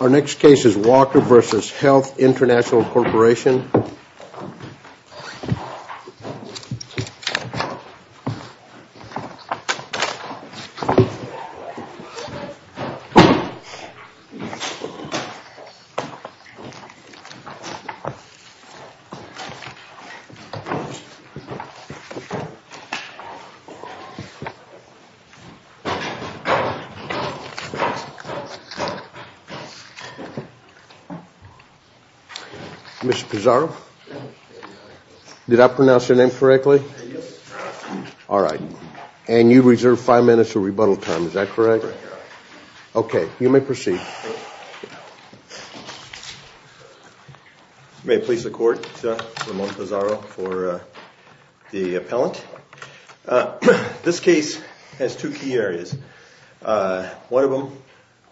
Our next case is Walker v. Health International Corporation. Mr. Pizarro, did I pronounce your name correctly? Yes, sir. All right. And you reserve five minutes of rebuttal time, is that correct? Correct, Your Honor. Okay. You may proceed. You may please support Ramon Pizarro for the appellant. This case has two key areas. One of them,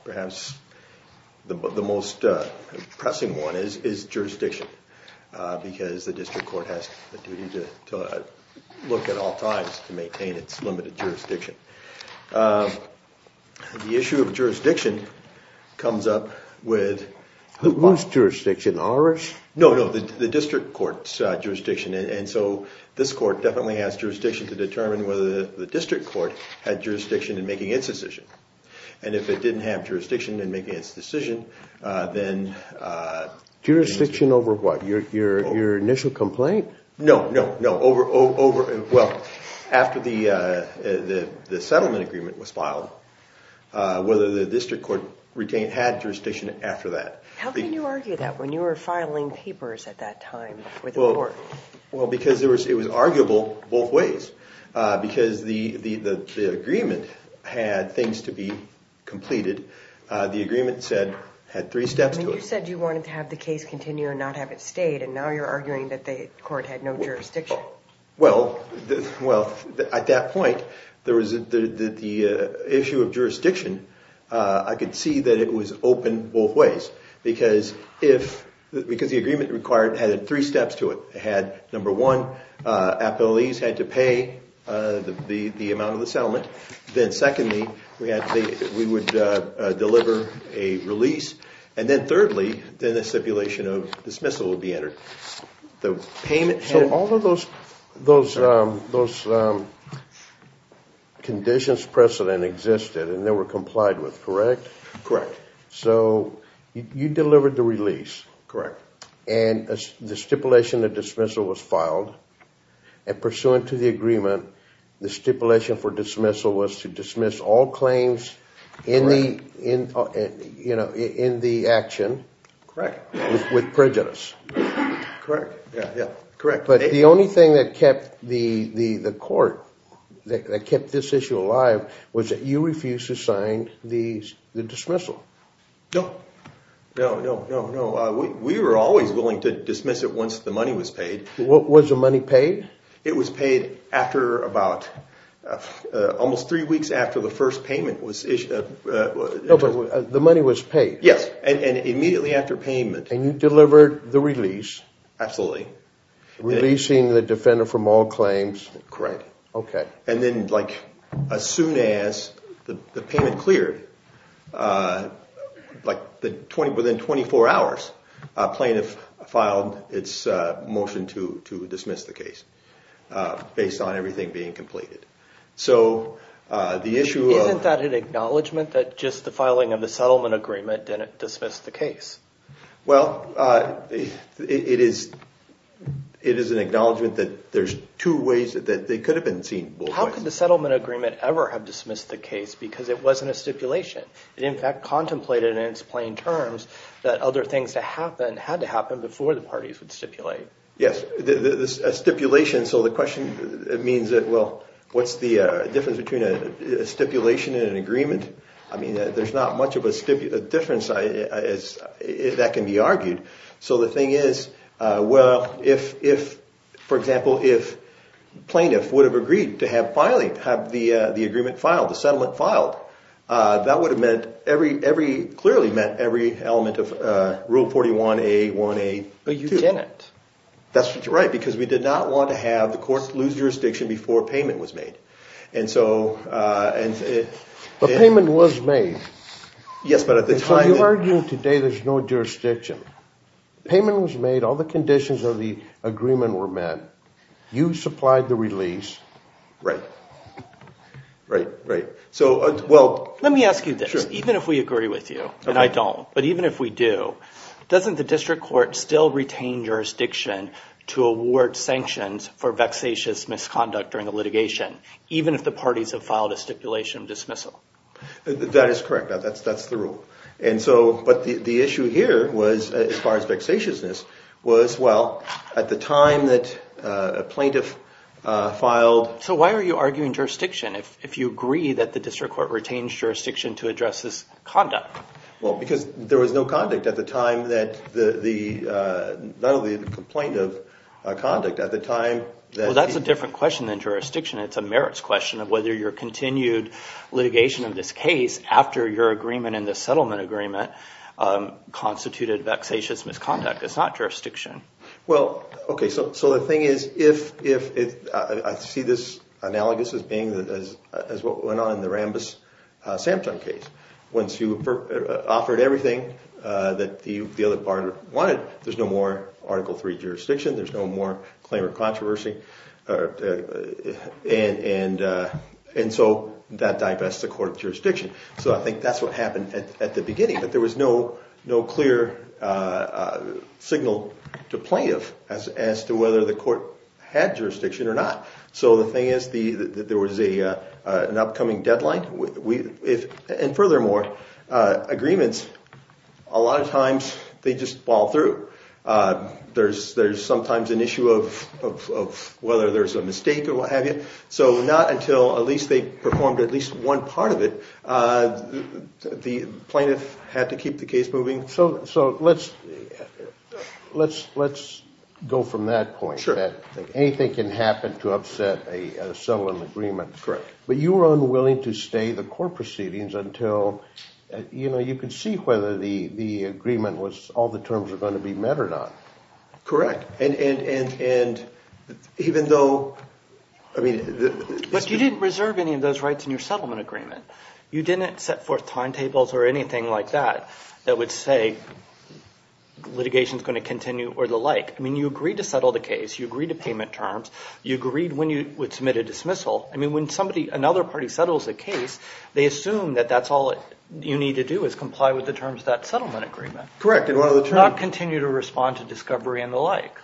perhaps the most pressing one, is jurisdiction, because the district court has a duty to look at all times to maintain its limited jurisdiction. The issue of jurisdiction comes up with… Who's jurisdiction? Ours? And so this court definitely has jurisdiction to determine whether the district court had jurisdiction in making its decision. And if it didn't have jurisdiction in making its decision, then… Jurisdiction over what? Your initial complaint? No, no, no. Well, after the settlement agreement was filed, whether the district court had jurisdiction after that. How can you argue that when you were filing papers at that time before the court? Well, because it was arguable both ways. Because the agreement had things to be completed. The agreement had three steps to it. You said you wanted to have the case continue and not have it stayed, and now you're arguing that the court had no jurisdiction. Well, at that point, the issue of jurisdiction, I could see that it was open both ways. Because the agreement had three steps to it. It had, number one, appellees had to pay the amount of the settlement. Then secondly, we would deliver a release. And then thirdly, then the stipulation of dismissal would be entered. So all of those conditions, precedent existed and they were complied with, correct? Correct. So you delivered the release. Correct. And the stipulation of dismissal was filed. And pursuant to the agreement, the stipulation for dismissal was to dismiss all claims in the action with prejudice. Correct. But the only thing that kept the court, that kept this issue alive, was that you refused to sign the dismissal. No. No, no, no, no. We were always willing to dismiss it once the money was paid. Was the money paid? It was paid after about, almost three weeks after the first payment was issued. No, but the money was paid. Yes, and immediately after payment. And you delivered the release. Absolutely. Releasing the defender from all claims. Correct. Okay. And then like as soon as the payment cleared, like within 24 hours, plaintiff filed its motion to dismiss the case based on everything being completed. So the issue of- Isn't that an acknowledgment that just the filing of the settlement agreement didn't dismiss the case? Well, it is an acknowledgment that there's two ways that they could have been seen both ways. How could the settlement agreement ever have dismissed the case because it wasn't a stipulation? It, in fact, contemplated in its plain terms that other things had to happen before the parties would stipulate. Yes. A stipulation, so the question means, well, what's the difference between a stipulation and an agreement? I mean, there's not much of a difference that can be argued. So the thing is, well, if, for example, if plaintiff would have agreed to have filing, have the agreement filed, the settlement filed, that would have meant every element of Rule 41A, 1A, 2. But you didn't. That's right, because we did not want to have the courts lose jurisdiction before payment was made. And so- But payment was made. Yes, but at the time- So you're arguing today there's no jurisdiction. Payment was made. All the conditions of the agreement were met. You supplied the release. Right. Right, right. So, well- Let me ask you this. Even if we agree with you, and I don't, but even if we do, doesn't the district court still retain jurisdiction to award sanctions for vexatious misconduct during a litigation? Even if the parties have filed a stipulation of dismissal? That is correct. That's the rule. And so, but the issue here was, as far as vexatiousness, was, well, at the time that a plaintiff filed- So why are you arguing jurisdiction if you agree that the district court retains jurisdiction to address this conduct? Well, because there was no conduct at the time that the, not only the complaint of conduct, at the time that- The merits question of whether your continued litigation of this case, after your agreement in the settlement agreement, constituted vexatious misconduct. It's not jurisdiction. Well, okay, so the thing is, if- I see this analogous as being, as what went on in the Rambis-Sampton case. Once you offered everything that the other party wanted, there's no more Article III jurisdiction. There's no more claimant controversy. And so, that divests the court of jurisdiction. So I think that's what happened at the beginning. But there was no clear signal to plaintiff as to whether the court had jurisdiction or not. So the thing is, there was an upcoming deadline. And furthermore, agreements, a lot of times, they just fall through. There's sometimes an issue of whether there's a mistake or what have you. So not until at least they performed at least one part of it, the plaintiff had to keep the case moving. So let's go from that point. Sure. Anything can happen to upset a settlement agreement. Correct. But you were unwilling to stay the court proceedings until, you know, you could see whether the agreement was, all the terms were going to be met or not. Correct. And even though, I mean- But you didn't reserve any of those rights in your settlement agreement. You didn't set forth timetables or anything like that that would say litigation's going to continue or the like. I mean, you agreed to settle the case. You agreed to payment terms. You agreed when you would submit a dismissal. I mean, when somebody, another party settles a case, they assume that that's all you need to do is comply with the terms of that settlement agreement. Correct. Not continue to respond to discovery and the like.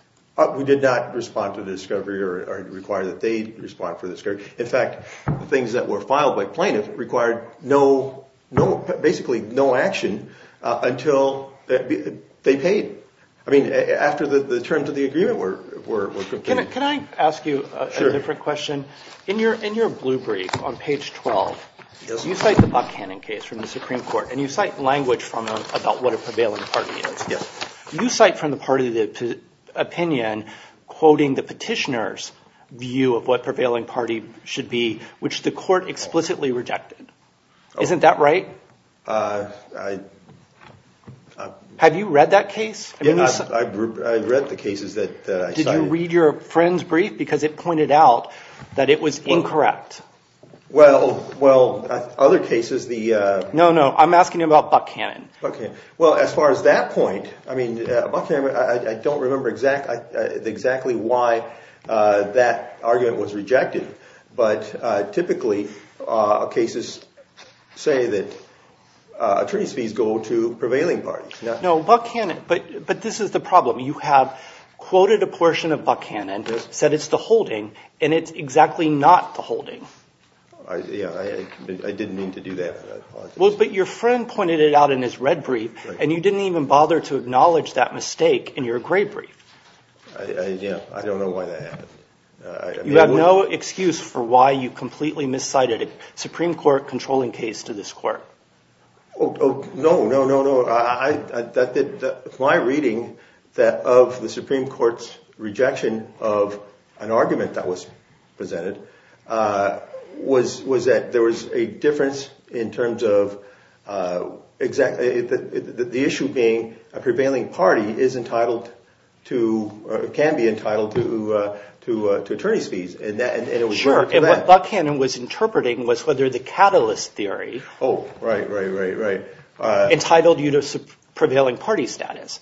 We did not respond to discovery or require that they respond for discovery. In fact, the things that were filed by plaintiffs required no, basically no action until they paid. I mean, after the terms of the agreement were completed. Can I ask you a different question? In your blue brief on page 12, you cite the Buckhannon case from the Supreme Court, and you cite language about what a prevailing party is. Yes. You cite from the part of the opinion, quoting the petitioner's view of what prevailing party should be, which the court explicitly rejected. Isn't that right? I- Have you read that case? Yeah, I read the cases that I cited. You didn't read your friend's brief because it pointed out that it was incorrect. Well, other cases, the- No, no. I'm asking you about Buckhannon. Okay. Well, as far as that point, I mean, Buckhannon, I don't remember exactly why that argument was rejected. But typically, cases say that attorney's fees go to prevailing parties. No, Buckhannon. But this is the problem. You have quoted a portion of Buckhannon, said it's the holding, and it's exactly not the holding. Yeah, I didn't mean to do that. Well, but your friend pointed it out in his red brief, and you didn't even bother to acknowledge that mistake in your gray brief. Yeah, I don't know why that happened. You have no excuse for why you completely miscited a Supreme Court controlling case to this court. Oh, no, no, no, no. My reading of the Supreme Court's rejection of an argument that was presented was that there was a difference in terms of the issue being a prevailing party is entitled to or can be entitled to attorney's fees. Sure. And what Buckhannon was interpreting was whether the catalyst theory- Oh, right, right, right, right. Entitled you to prevailing party status.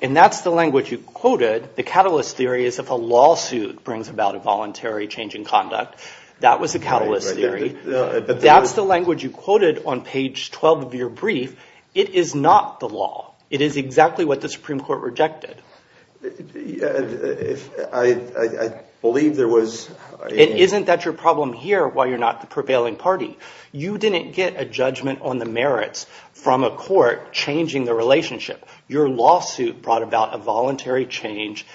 And that's the language you quoted. The catalyst theory is if a lawsuit brings about a voluntary change in conduct. That was the catalyst theory. That's the language you quoted on page 12 of your brief. It is not the law. It is exactly what the Supreme Court rejected. I believe there was- It isn't that your problem here why you're not the prevailing party. You didn't get a judgment on the merits from a court changing the relationship. Your lawsuit brought about a voluntary change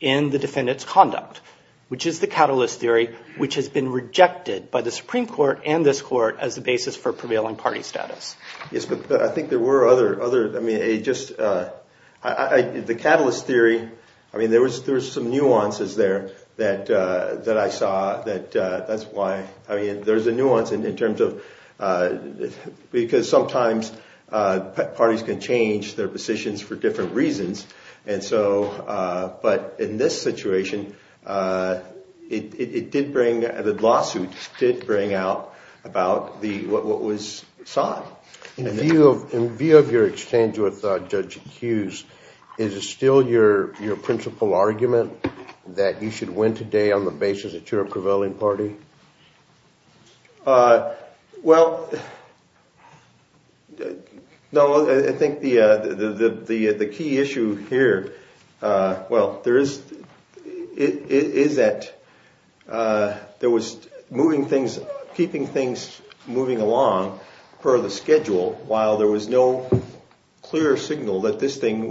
in the defendant's conduct, which is the catalyst theory, which has been rejected by the Supreme Court and this court as the basis for prevailing party status. Yes, but I think there were other- The catalyst theory, I mean, there was some nuances there that I saw that that's why- I mean, there's a nuance in terms of- Because sometimes parties can change their positions for different reasons. And so- But in this situation, it did bring- The lawsuit did bring out about what was sought. In view of your exchange with Judge Hughes, is it still your principal argument that you should win today on the basis that you're a prevailing party? Well, no, I think the key issue here, well, there is- Is that there was moving things, keeping things moving along per the schedule while there was no clear signal that this thing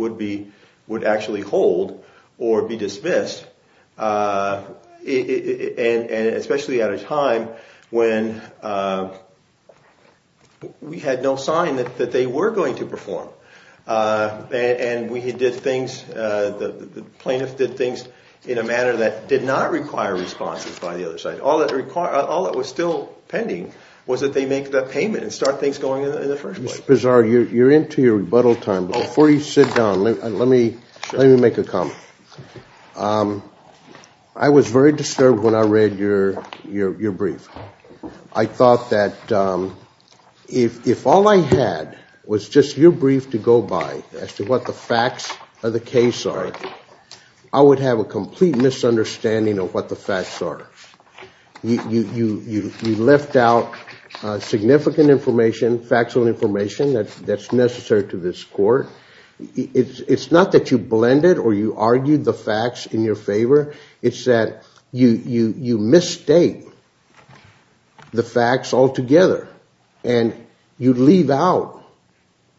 would actually hold or be dismissed. And especially at a time when we had no sign that they were going to perform. And we did things, the plaintiffs did things in a manner that did not require responses by the other side. All that was still pending was that they make the payment and start things going in the first place. Mr. Bizar, you're into your rebuttal time, but before you sit down, let me make a comment. I was very disturbed when I read your brief. I thought that if all I had was just your brief to go by as to what the facts of the case are, I would have a complete misunderstanding of what the facts are. You left out significant information, factual information that's necessary to this court. It's not that you blended or you argued the facts in your favor, it's that you misstate the facts altogether. And you leave out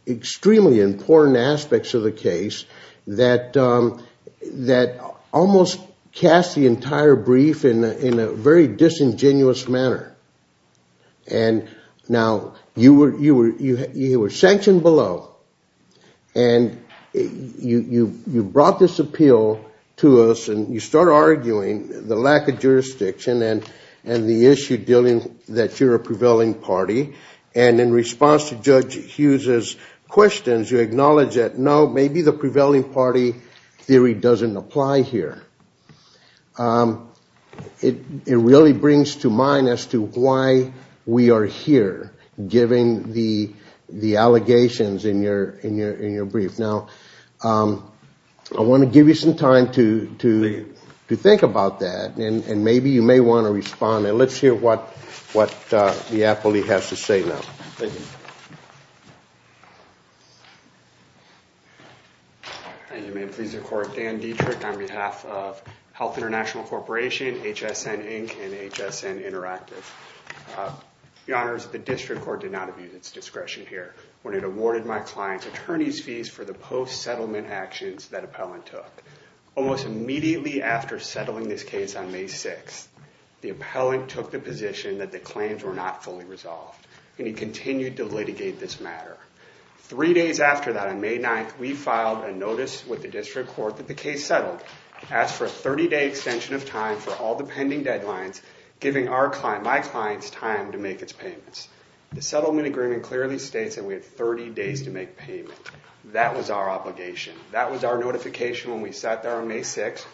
extremely important aspects of the case that almost cast the entire brief in a very disingenuous manner. And now you were sanctioned below. And you brought this appeal to us and you start arguing the lack of jurisdiction and the issue dealing that you're a prevailing party. And in response to Judge Hughes' questions, you acknowledge that no, maybe the prevailing party theory doesn't apply here. It really brings to mind as to why we are here, given the allegations in your brief. Now, I want to give you some time to think about that, and maybe you may want to respond. And let's hear what the appellee has to say now. Thank you. And you may please record Dan Dietrich on behalf of Health International Corporation, HSN Inc., and HSN Interactive. Your honors, the district court did not abuse its discretion here when it awarded my client's attorney's fees for the post-settlement actions that appellant took. Almost immediately after settling this case on May 6th, the appellant took the position that the claims were not fully resolved, and he continued to litigate this matter. Three days after that, on May 9th, we filed a notice with the district court that the case settled, asked for a 30-day extension of time for all the pending deadlines, giving my client's time to make its payments. The settlement agreement clearly states that we have 30 days to make payment. That was our obligation. That was our notification when we sat there on May 6th.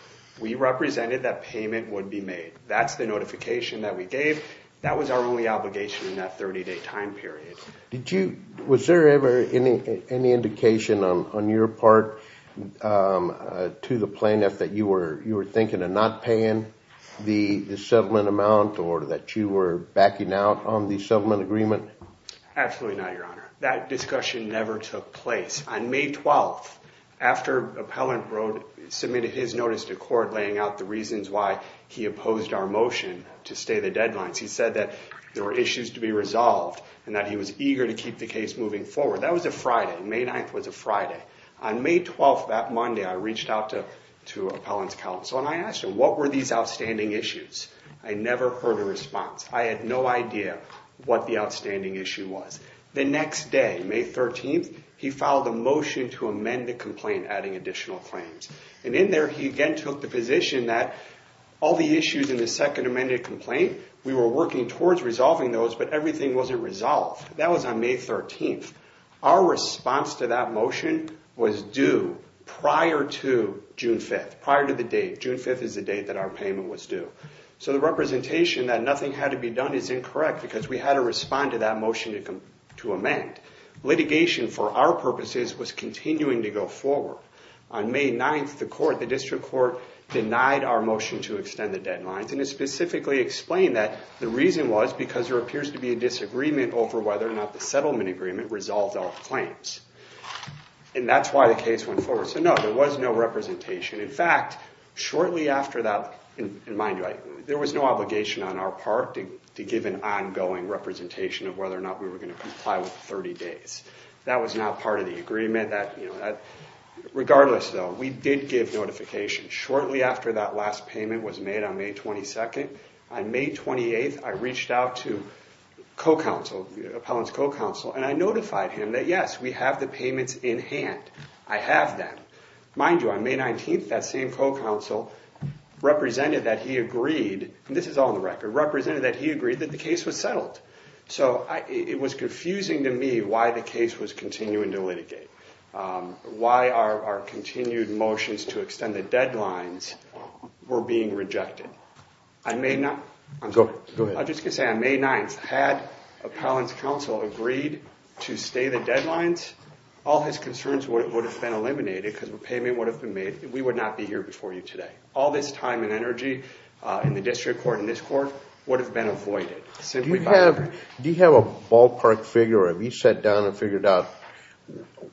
We represented that payment would be made. That's the notification that we gave. That was our only obligation in that 30-day time period. Was there ever any indication on your part to the plaintiff that you were thinking of not paying the settlement amount or that you were backing out on the settlement agreement? Absolutely not, your honor. That discussion never took place. On May 12th, after appellant submitted his notice to court laying out the reasons why he opposed our motion to stay the deadlines, he said that there were issues to be resolved and that he was eager to keep the case moving forward. That was a Friday. May 9th was a Friday. On May 12th, that Monday, I reached out to appellant's counsel, and I asked him, what were these outstanding issues? I never heard a response. I had no idea what the outstanding issue was. The next day, May 13th, he filed a motion to amend the complaint, adding additional claims. And in there, he again took the position that all the issues in the second amended complaint, we were working towards resolving those, but everything wasn't resolved. That was on May 13th. Our response to that motion was due prior to June 5th, prior to the date. June 5th is the date that our payment was due. So the representation that nothing had to be done is incorrect, because we had to respond to that motion to amend. Litigation, for our purposes, was continuing to go forward. On May 9th, the court, the district court, denied our motion to extend the deadlines. And it specifically explained that the reason was because there appears to be a disagreement over whether or not the settlement agreement resolved all the claims. And that's why the case went forward. So no, there was no representation. In fact, shortly after that, and mind you, there was no obligation on our part to give an ongoing representation of whether or not we were going to comply with 30 days. That was not part of the agreement. Regardless, though, we did give notification. Shortly after that last payment was made on May 22nd, on May 28th, I reached out to co-counsel, Appellant's co-counsel, and I notified him that yes, we have the payments in hand. I have them. Mind you, on May 19th, that same co-counsel represented that he agreed, and this is all on the record, represented that he agreed that the case was settled. So it was confusing to me why the case was continuing to litigate, why our continued motions to extend the deadlines were being rejected. I may not, I'm sorry. Go ahead. I was just going to say, on May 9th, had Appellant's counsel agreed to stay the deadlines, all his concerns would have been eliminated because the payment would have been made. We would not be here before you today. All this time and energy in the district court and this court would have been avoided. Do you have a ballpark figure, or have you sat down and figured out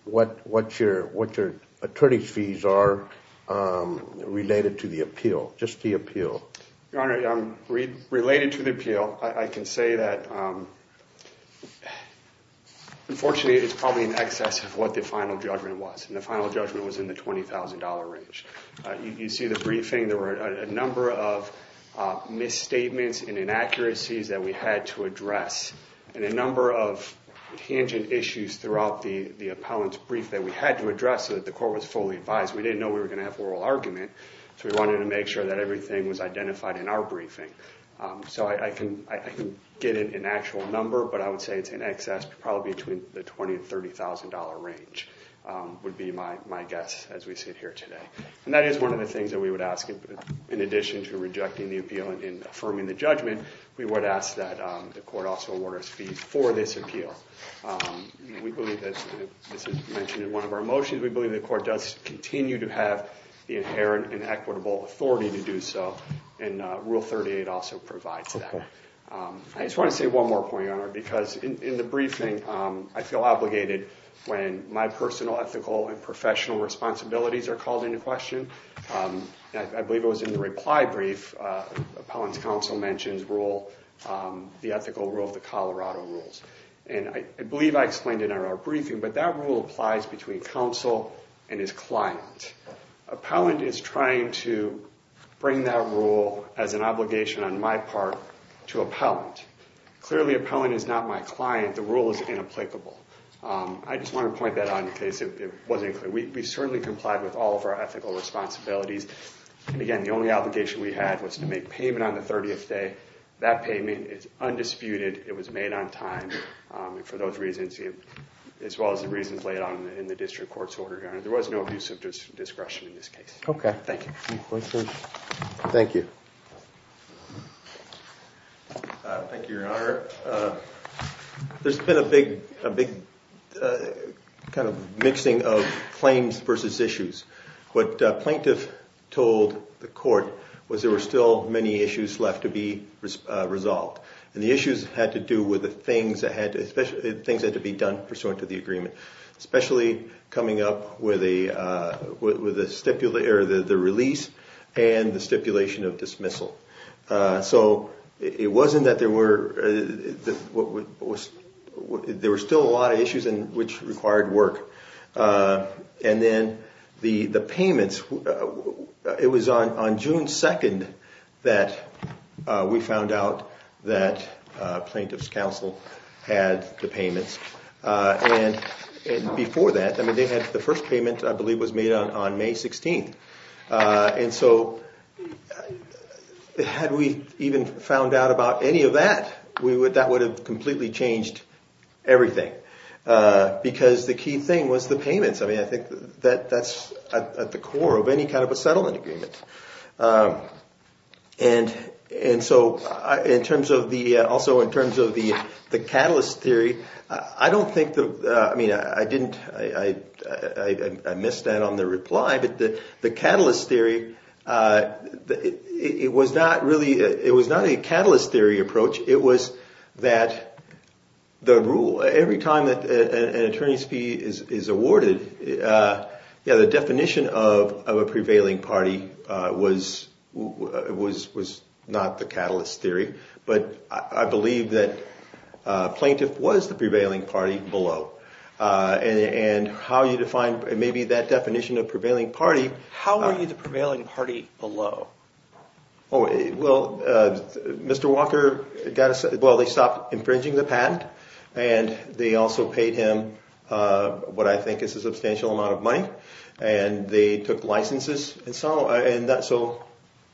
what your attorney's fees are related to the appeal, just the appeal? Your Honor, related to the appeal, I can say that, unfortunately, it's probably in excess of what the final judgment was, and the final judgment was in the $20,000 range. You see the briefing. There were a number of misstatements and inaccuracies that we had to address and a number of tangent issues throughout the appellant's brief that we had to address so that the court was fully advised. We didn't know we were going to have oral argument, so we wanted to make sure that everything was identified in our briefing. I can get an actual number, but I would say it's in excess, probably between the $20,000 and $30,000 range would be my guess as we sit here today. That is one of the things that we would ask. In addition to rejecting the appeal and affirming the judgment, we would ask that the court also award us fees for this appeal. We believe that this is mentioned in one of our motions. We believe the court does continue to have the inherent and equitable authority to do so, and Rule 38 also provides that. I just want to say one more point, Your Honor, because in the briefing, I feel obligated when my personal, ethical, and professional responsibilities are called into question. I believe it was in the reply brief. Appellant's counsel mentions the ethical rule of the Colorado rules. I believe I explained it in our briefing, but that rule applies between counsel and his client. Appellant is trying to bring that rule as an obligation on my part to appellant. Clearly, appellant is not my client. The rule is inapplicable. I just want to point that out in case it wasn't clear. We certainly complied with all of our ethical responsibilities. Again, the only obligation we had was to make payment on the 30th day. That payment is undisputed. It was made on time. For those reasons, as well as the reasons laid out in the district court's order, Your Honor, there was no abuse of discretion in this case. Okay. Thank you. Thank you. Thank you, Your Honor. There's been a big kind of mixing of claims versus issues. What plaintiff told the court was there were still many issues left to be resolved. And the issues had to do with the things that had to be done pursuant to the agreement, especially coming up with the release and the stipulation of dismissal. So it wasn't that there were – there were still a lot of issues which required work. And then the payments, it was on June 2nd that we found out that plaintiff's counsel had the payments. And before that, I mean, they had – the first payment, I believe, was made on May 16th. And so had we even found out about any of that, we would – that would have completely changed everything because the key thing was the payments. I mean, I think that's at the core of any kind of a settlement agreement. And so in terms of the – also in terms of the catalyst theory, I don't think the – I mean, I didn't – I missed that on the reply. But the catalyst theory, it was not really – it was not a catalyst theory approach. It was that the rule – every time that an attorney's fee is awarded, yeah, the definition of a prevailing party was not the catalyst theory. But I believe that plaintiff was the prevailing party below. And how you define maybe that definition of prevailing party – How were you the prevailing party below? Oh, well, Mr. Walker got a – well, they stopped infringing the patent. And they also paid him what I think is a substantial amount of money. And they took licenses and so on.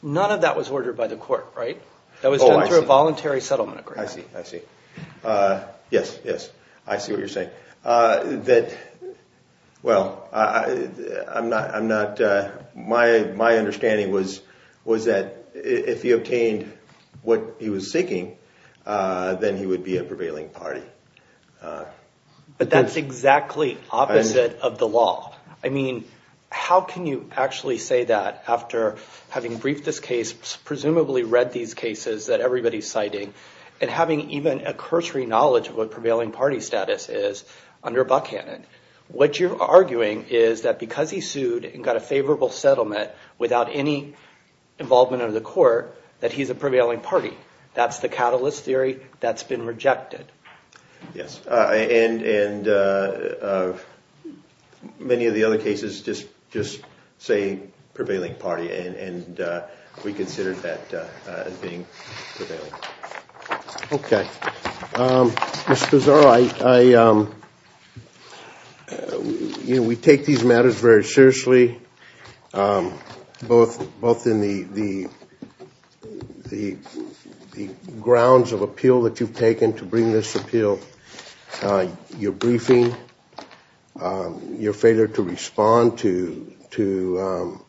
None of that was ordered by the court, right? That was done through a voluntary settlement agreement. I see. I see. That – well, I'm not – my understanding was that if he obtained what he was seeking, then he would be a prevailing party. But that's exactly opposite of the law. I mean, how can you actually say that after having briefed this case, presumably read these cases that everybody is citing, and having even a cursory knowledge of what prevailing party status is under Buckhannon, what you're arguing is that because he sued and got a favorable settlement without any involvement under the court, that he's a prevailing party. That's the catalyst theory that's been rejected. Yes. And many of the other cases just say prevailing party, and we considered that as being prevailing. Okay. Ms. Pizarro, I – you know, we take these matters very seriously, both in the grounds of appeal that you've taken to bring this appeal, your briefing, your failure to respond to the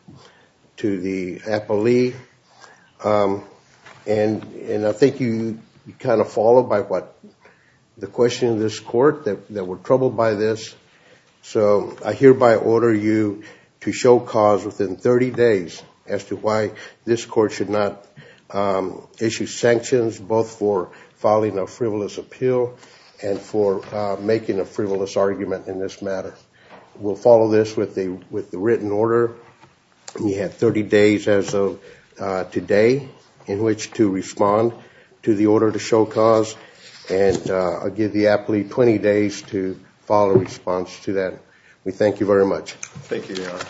appellee. And I think you kind of followed by what – the question of this court, that we're troubled by this. So I hereby order you to show cause within 30 days as to why this court should not issue sanctions, both for filing a frivolous appeal and for making a frivolous argument in this matter. We'll follow this with the written order. You have 30 days as of today in which to respond to the order to show cause, and I'll give the appellee 20 days to file a response to that. We thank you very much. Thank you, Your Honor.